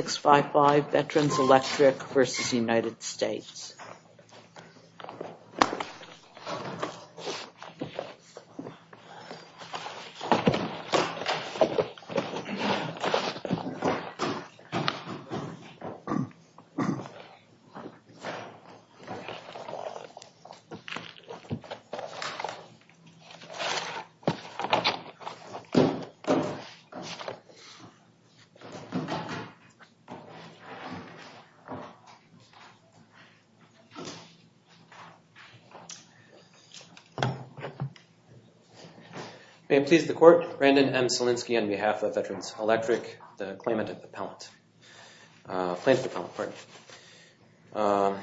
655 Veterans Electric v. United States May it please the court, Brandon M. Selinsky on behalf of Veterans Electric, the claimant and appellant, plaintiff appellant, pardon.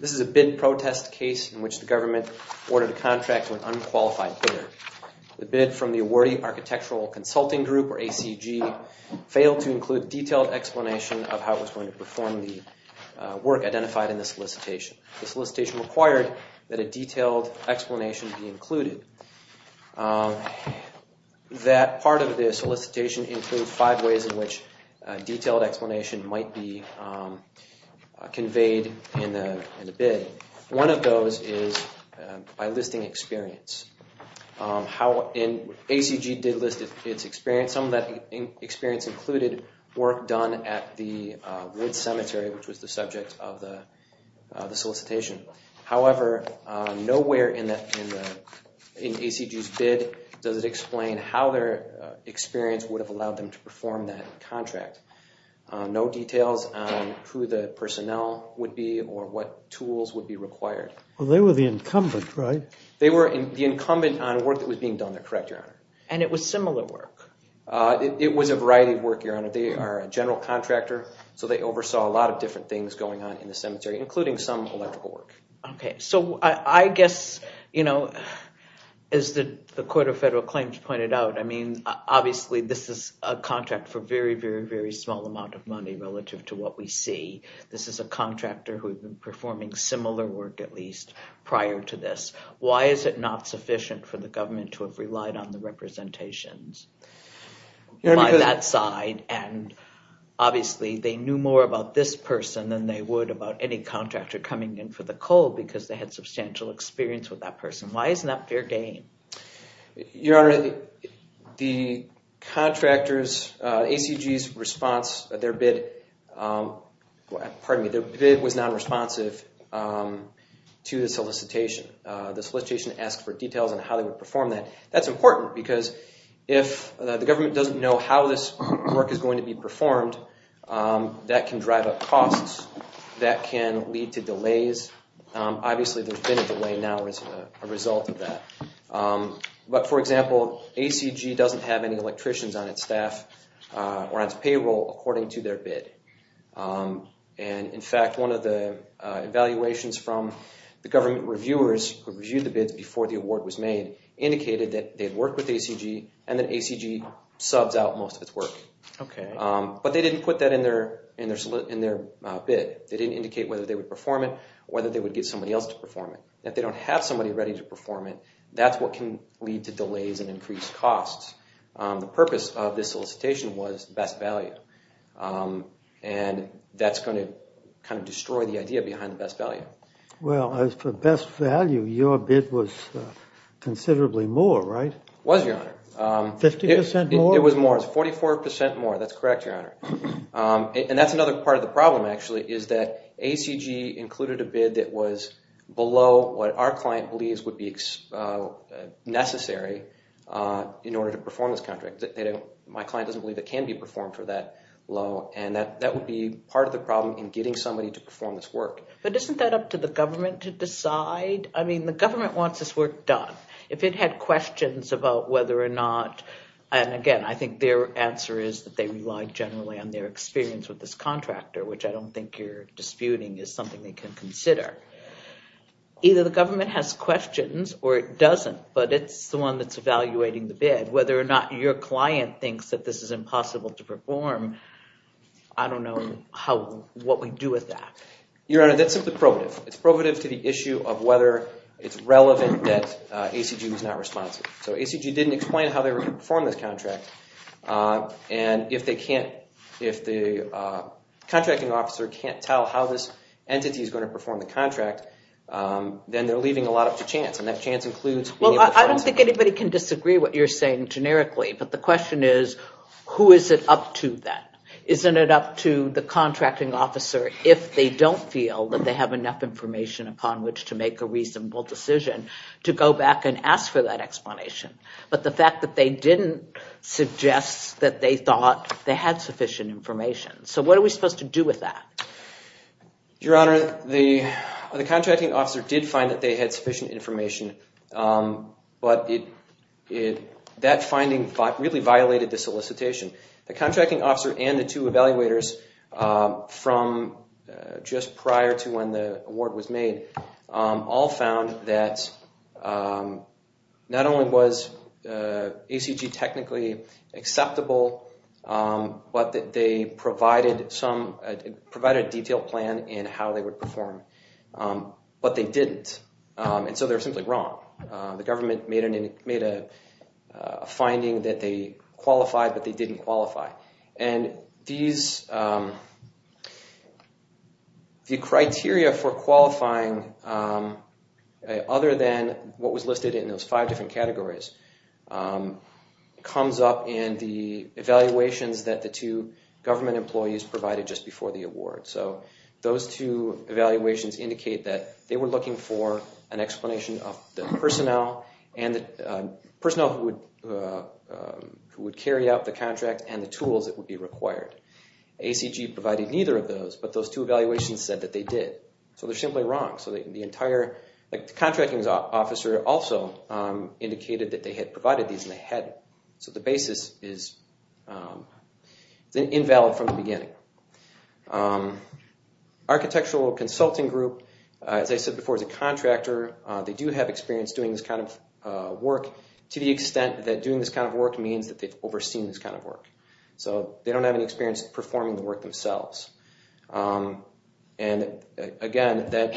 This is a bid protest case in which the government ordered a contract to an unqualified bidder. The bid from the awardee architectural consulting group or ACG failed to include detailed explanation of how it was going to perform the work identified in the solicitation. The solicitation required that a detailed explanation be included. That part of the solicitation includes five ways in which a detailed explanation might be conveyed in the bid. One of those is by listing experience. ACG did list its experience. Some of that experience included work done at the Wood Cemetery which was the subject of the solicitation. However, nowhere in ACG's bid does it explain how their experience would have allowed them to perform that contract. No details on who the personnel would be or what tools would be required. Well, they were the incumbent, right? They were the incumbent on work that was being done. They're correct, Your Honor. And it was similar work? It was a variety of work, Your Honor. They are a general contractor so they oversaw a lot of different things going on in the cemetery including some electrical work. Okay, so I guess, you know, as the Court of Federal Claims pointed out, I mean, obviously, this is a contract for very, very, very small amount of money relative to what we see. This is a contractor who had been performing similar work at least prior to this. Why is it not sufficient for the government to have relied on the representations by that side? And obviously, they knew more about this person than they would about any contractor coming in for the coal because they had substantial experience with that person. Why isn't that fair game? Your Honor, the contractors, ACG's response, their bid, pardon me, their bid was non-responsive to the solicitation. The solicitation asked for details on how they would perform that. That's important because if the government doesn't know how this work is going to be performed, that can drive up costs. That can lead to delays. Obviously, there's been a delay now as a result of that. But for example, ACG doesn't have any electricians on its staff or on its payroll according to their bid. And in fact, one of the evaluations from the government reviewers who reviewed the bids before the award was made indicated that they've worked with ACG and that ACG subs out most of its work. Okay. But they didn't put that in their bid. They didn't indicate whether they would perform it or whether they would get somebody else to perform it. If they don't have somebody ready to perform it, that's what can lead to delays and increased costs. The purpose of this solicitation was best value. And that's going to kind of destroy the idea behind the best value. Well, as for best value, your bid was considerably more, right? It was, Your Honor. Fifty percent more? It was more. Forty-four percent more. That's correct, Your Honor. And that's another part of the problem, actually, is that ACG included a bid that was below what our client believes would be necessary in order to perform this contract. My client doesn't believe it can be performed for that low. And that would be part of the problem in getting somebody to perform this work. But isn't that up to the government to decide? I mean, the government wants this work done. If it had questions about whether or not, and again, I think their answer is that they rely generally on their experience with this contractor, which I don't think you're disputing is something they can consider. Either the government has questions or it doesn't, but it's the one that's evaluating the bid. Whether or not your client thinks that this is impossible to perform, I don't know what we do with that. Your Honor, that's simply probative. It's probative to the issue of whether it's relevant that ACG was not responsive. So ACG didn't explain how they were going to perform this contract. And if the contracting officer can't tell how this entity is going to perform the contract, then they're leaving a lot up to chance. And that chance includes... Well, I don't think anybody can disagree what you're saying generically. But the question is, who is it up to then? Isn't it up to the contracting officer if they don't feel that they have enough information upon which to make a reasonable decision to go back and ask for that explanation? But the fact that they didn't suggest that they thought they had sufficient information. So what are we supposed to do with that? Your Honor, the contracting officer did find that they had sufficient information, but that finding really violated the solicitation. The contracting officer and the two evaluators from just prior to when the award was made all found that not only was ACG technically acceptable, but that they provided a detailed plan in how they would perform. But they didn't. And so they're simply wrong. The government made a finding that they qualified, but they didn't qualify. The criteria for qualifying, other than what was listed in those five different categories, comes up in the evaluations that the two government employees provided just before the award. So those two evaluations indicate that they were looking for an explanation of the personnel and the personnel who would carry out the contract and the tools that would be required. ACG provided neither of those, but those two evaluations said that they did. So they're simply wrong. The contracting officer also indicated that they had provided these and they hadn't. So the basis is invalid from the beginning. Architectural Consulting Group, as I said before, is a contractor. They do have experience doing this kind of work to the extent that doing this work means that they've overseen this kind of work. So they don't have any experience performing the work themselves. And again, that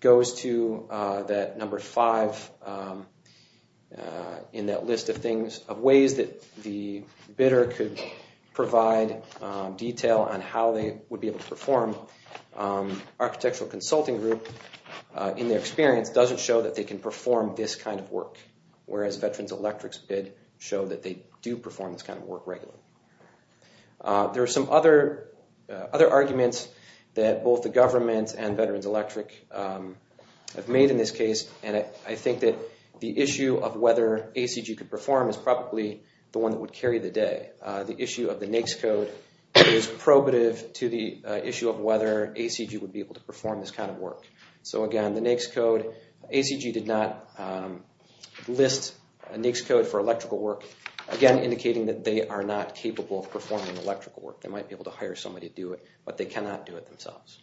goes to that number five in that list of ways that the bidder could provide detail on how they would be able to perform. Architectural Consulting Group, in their experience, doesn't show that they can perform this kind of work. Whereas Veterans Electric's bid show that they do perform this kind of work regularly. There are some other other arguments that both the government and Veterans Electric have made in this case. And I think that the issue of whether ACG could perform is probably the one that would carry the day. The issue of the NAICS code is probative to the issue of whether ACG would be able to perform this kind of work. So again, the NAICS code, ACG did not list a NAICS code for electrical work, again, indicating that they are not capable of performing electrical work. They might be able to hire somebody to do it, but they cannot do it themselves.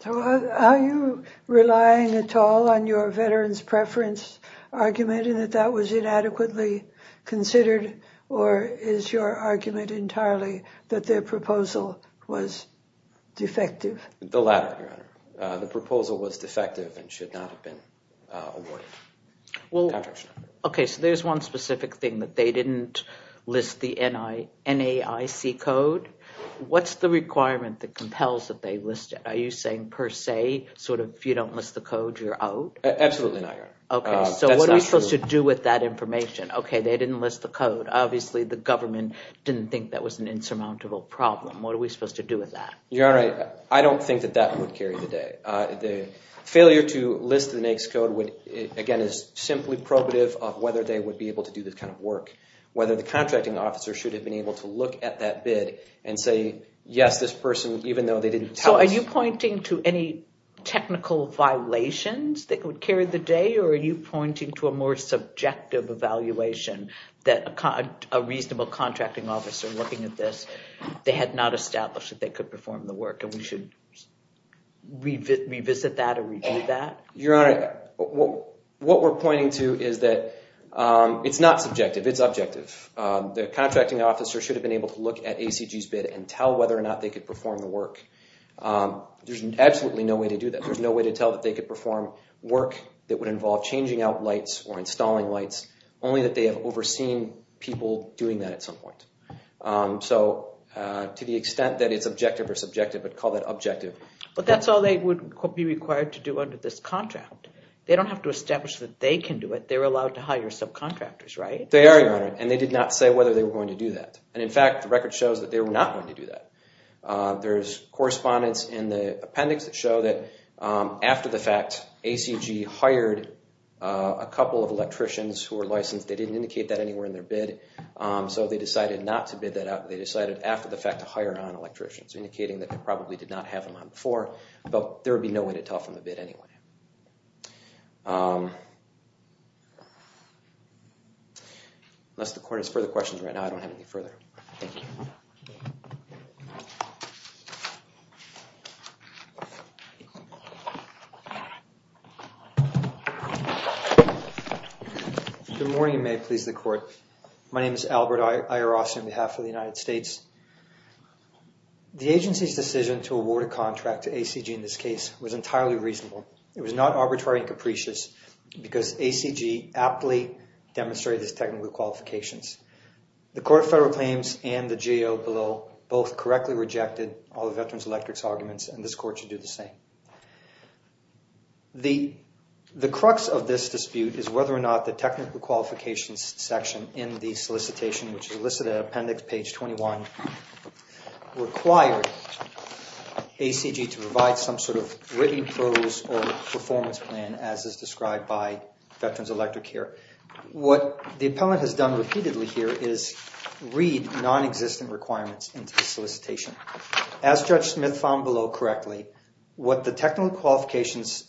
So are you relying at all on your Veterans preference argument in that that was inadequately considered? Or is your argument entirely that their proposal was defective and should not have been awarded? Well, okay, so there's one specific thing that they didn't list the NAICS code. What's the requirement that compels that they list it? Are you saying per se, sort of, if you don't list the code, you're out? Absolutely not, Your Honor. Okay, so what are we supposed to do with that information? Okay, they didn't list the code. Obviously, the government didn't think that was an insurmountable problem. What are we supposed to do with that? Your Honor, I don't think that that would carry the day. The failure to list the NAICS code would, again, is simply probative of whether they would be able to do this kind of work. Whether the contracting officer should have been able to look at that bid and say, yes, this person, even though they didn't tell us. So are you pointing to any technical violations that would carry the day? Or are you pointing to a more subjective evaluation that a reasonable contracting officer looking at this, they had not established that they could perform the work and we should revisit that or review that? Your Honor, what we're pointing to is that it's not subjective, it's objective. The contracting officer should have been able to look at ACG's bid and tell whether or not they could perform the work. There's absolutely no way to do that. There's no way to tell that they could perform work that would involve changing out lights or installing lights, only that they have overseen people doing that at some point. So to the extent that it's objective or subjective, I'd call that objective. But that's all they would be required to do under this contract. They don't have to establish that they can do it. They're allowed to hire subcontractors, right? They are, Your Honor, and they did not say whether they were going to do that. And in fact, the record shows that they were not going to do that. There's correspondence in the appendix that show that after the fact, ACG hired a couple of electricians who were licensed. They didn't indicate that anywhere in their bid, so they decided not to bid that out. They decided after the fact to hire non-electricians, indicating that they probably did not have them on before, but there would be no way to tell from the bid anyway. Unless the Court has further questions right now, I don't have any further. Good morning, and may it please the Court. My name is Albert Ayer-Ross on behalf of the United States. The agency's decision to award a contract to ACG in this case was entirely reasonable. It was not arbitrary and capricious because ACG aptly demonstrated its technical qualifications. The Court of Federal Claims and the GAO below both correctly rejected all the Veterans Electric's arguments, and this Court should do the same. The crux of this dispute is whether or not the technical qualifications section in the solicitation, which is listed in appendix page 21, required ACG to provide some sort of written prose or performance plan as is described by Veterans Electric here. What the appellant has done repeatedly here is read non-existent requirements into the solicitation. As Judge Smith found below correctly, what the technical qualifications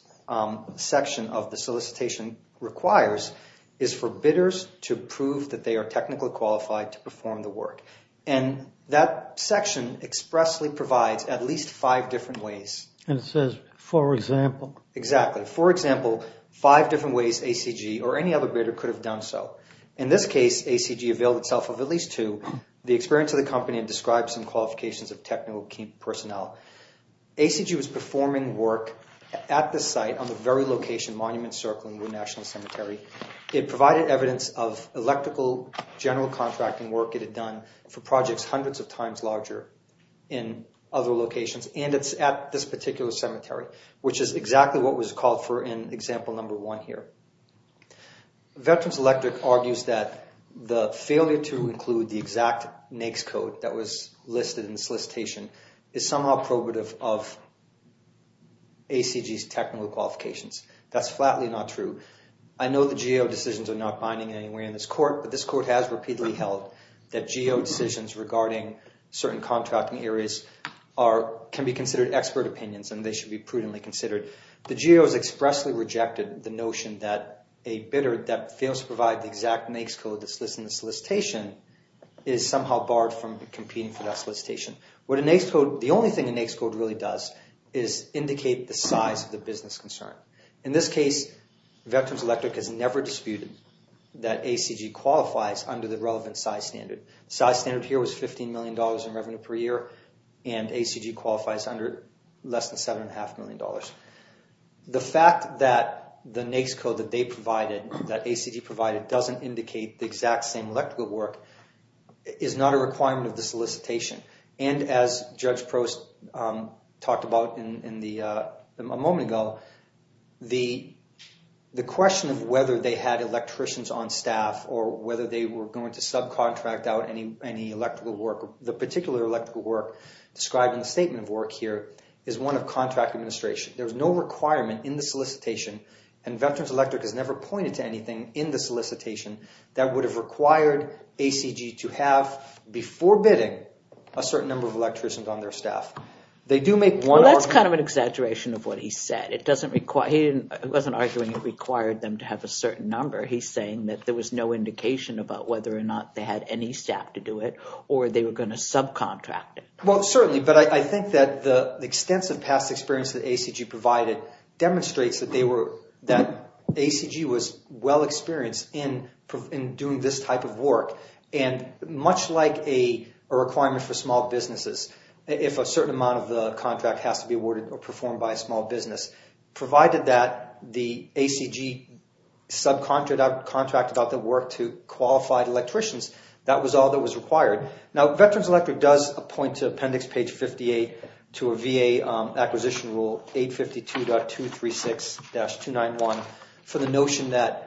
section of the solicitation requires is for bidders to prove that they are technically qualified to perform the work, and that section expressly provides at least five different ways. And it says, for example. Exactly. For example, five different ways ACG or any other bidder could have done so. In this case, ACG availed itself of at least two. The experience of the company describes some qualifications of technical personnel. ACG was performing work at the site on the very location, Monument Circle in Wood National Cemetery. It provided evidence of electrical general contracting work it had done for projects hundreds of times larger in other locations, and it's at this particular cemetery, which is exactly what was called for in example number one here. Veterans Electric argues that the failure to include the exact NAICS code that was listed in the solicitation is somehow prohibitive of ACG's technical qualifications. That's flatly not true. I know the GAO decisions are not binding anywhere in this court, but this court has repeatedly held that GAO decisions regarding certain contracting areas can be considered expert opinions and they should be prudently considered. The GAO has expressly rejected the notion that a bidder that fails to provide the exact NAICS code that's listed in the solicitation is somehow barred from competing for that solicitation. The only thing a NAICS code really does is indicate the size of the business concern. In this case, Veterans Electric has never disputed that ACG qualifies under the relevant size standard. The size standard here was $15 million in revenue per year, and ACG qualifies under less than $7.5 million. The fact that the NAICS code that ACG provided doesn't indicate the exact same electrical work is not a requirement of the solicitation. And as Judge Prost talked about a moment ago, the question of whether they had electricians on staff or whether they were going to subcontract out any electrical work, the particular electrical work described in the statement of work here, is one of contract administration. There was no requirement in the solicitation, and Veterans Electric has never pointed to anything in the solicitation that would have required ACG to have, before bidding, a certain number of electricians on their staff. They do make one argument... Well, that's kind of an exaggeration of what he said. It doesn't require... He wasn't arguing it required them to have a certain number. He's saying that there was no indication about whether or not they had any staff to do it or they were going to subcontract it. Well, certainly, but I think that the extensive past experience that ACG provided demonstrates that ACG was well-experienced in doing this type of work. And much like a requirement for small businesses, if a certain amount of the contract has to be awarded or performed by a small business, provided that the ACG subcontracted out the work to qualified electricians, that was all that was required. Now, Veterans Electric does point to appendix page 58 to a VA acquisition rule 852.236-291 for the notion that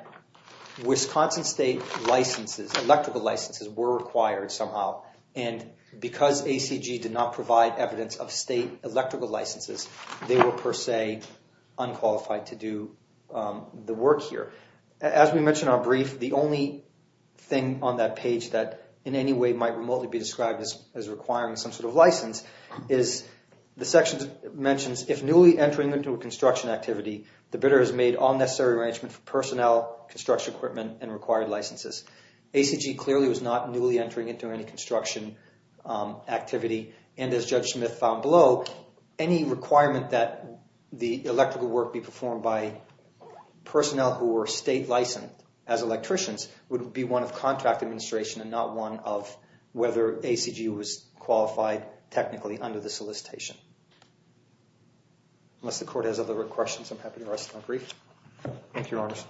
Wisconsin state licenses, electrical licenses, were required somehow. And because ACG did not provide evidence of state electrical licenses, they were, per se, unqualified to do the work here. As we mentioned on brief, the only thing on that page that, in any way, might remotely be described as requiring some license is the section that mentions, if newly entering into a construction activity, the bidder has made all necessary arrangements for personnel, construction equipment, and required licenses. ACG clearly was not newly entering into any construction activity. And as Judge Smith found below, any requirement that the electrical work be performed by personnel who were state licensed as electricians would be one of contract administration and not one of whether ACG was qualified technically under the solicitation. Unless the court has other questions, I'm happy to rest on brief. Thank you, Your Honors.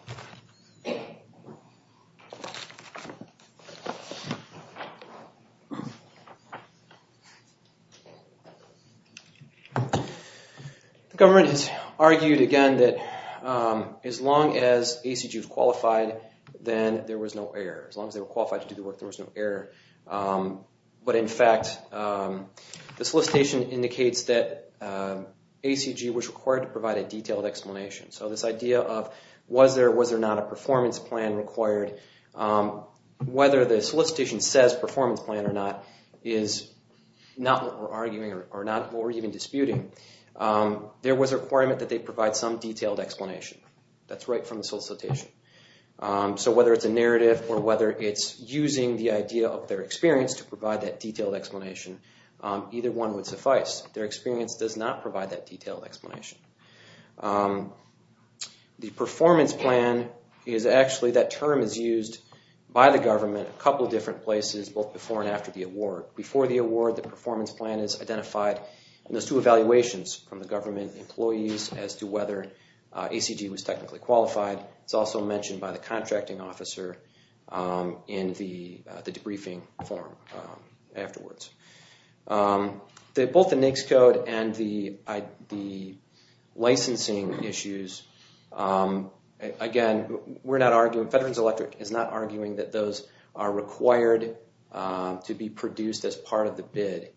The government has argued, again, that as long as ACG was qualified, then there was no error. As a matter of fact, the solicitation indicates that ACG was required to provide a detailed explanation. So this idea of was there or was there not a performance plan required, whether the solicitation says performance plan or not, is not what we're arguing or not what we're even disputing. There was a requirement that they provide some detailed explanation. That's right from the solicitation. So whether it's a narrative or whether it's using the idea of their experience to provide that detailed explanation, either one would suffice. Their experience does not provide that detailed explanation. The performance plan is actually, that term is used by the government a couple of different places, both before and after the award. Before the award, the performance plan is identified in those two evaluations from the government employees as to whether ACG was technically qualified. It's also mentioned by the contracting officer in the debriefing form afterwards. Both the NAICS code and the licensing issues, again, we're not arguing, Veterans Electric is not arguing that those are required to be produced as part of the bid.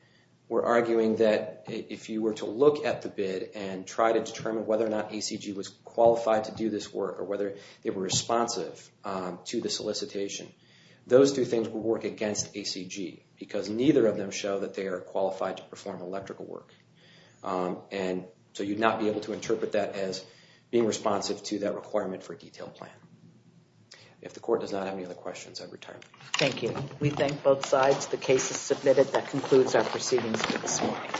We're arguing that if you were to look at the bid and try to determine whether or not ACG was qualified to do this work or whether they were responsive to the solicitation, those two things would work against ACG because neither of them show that they are qualified to perform electrical work. And so you'd not be able to interpret that as being responsive to that requirement for a detailed plan. If the court does not have any other questions, I'd retire. Thank you. We thank both sides. The case is submitted. That concludes our proceedings for this morning.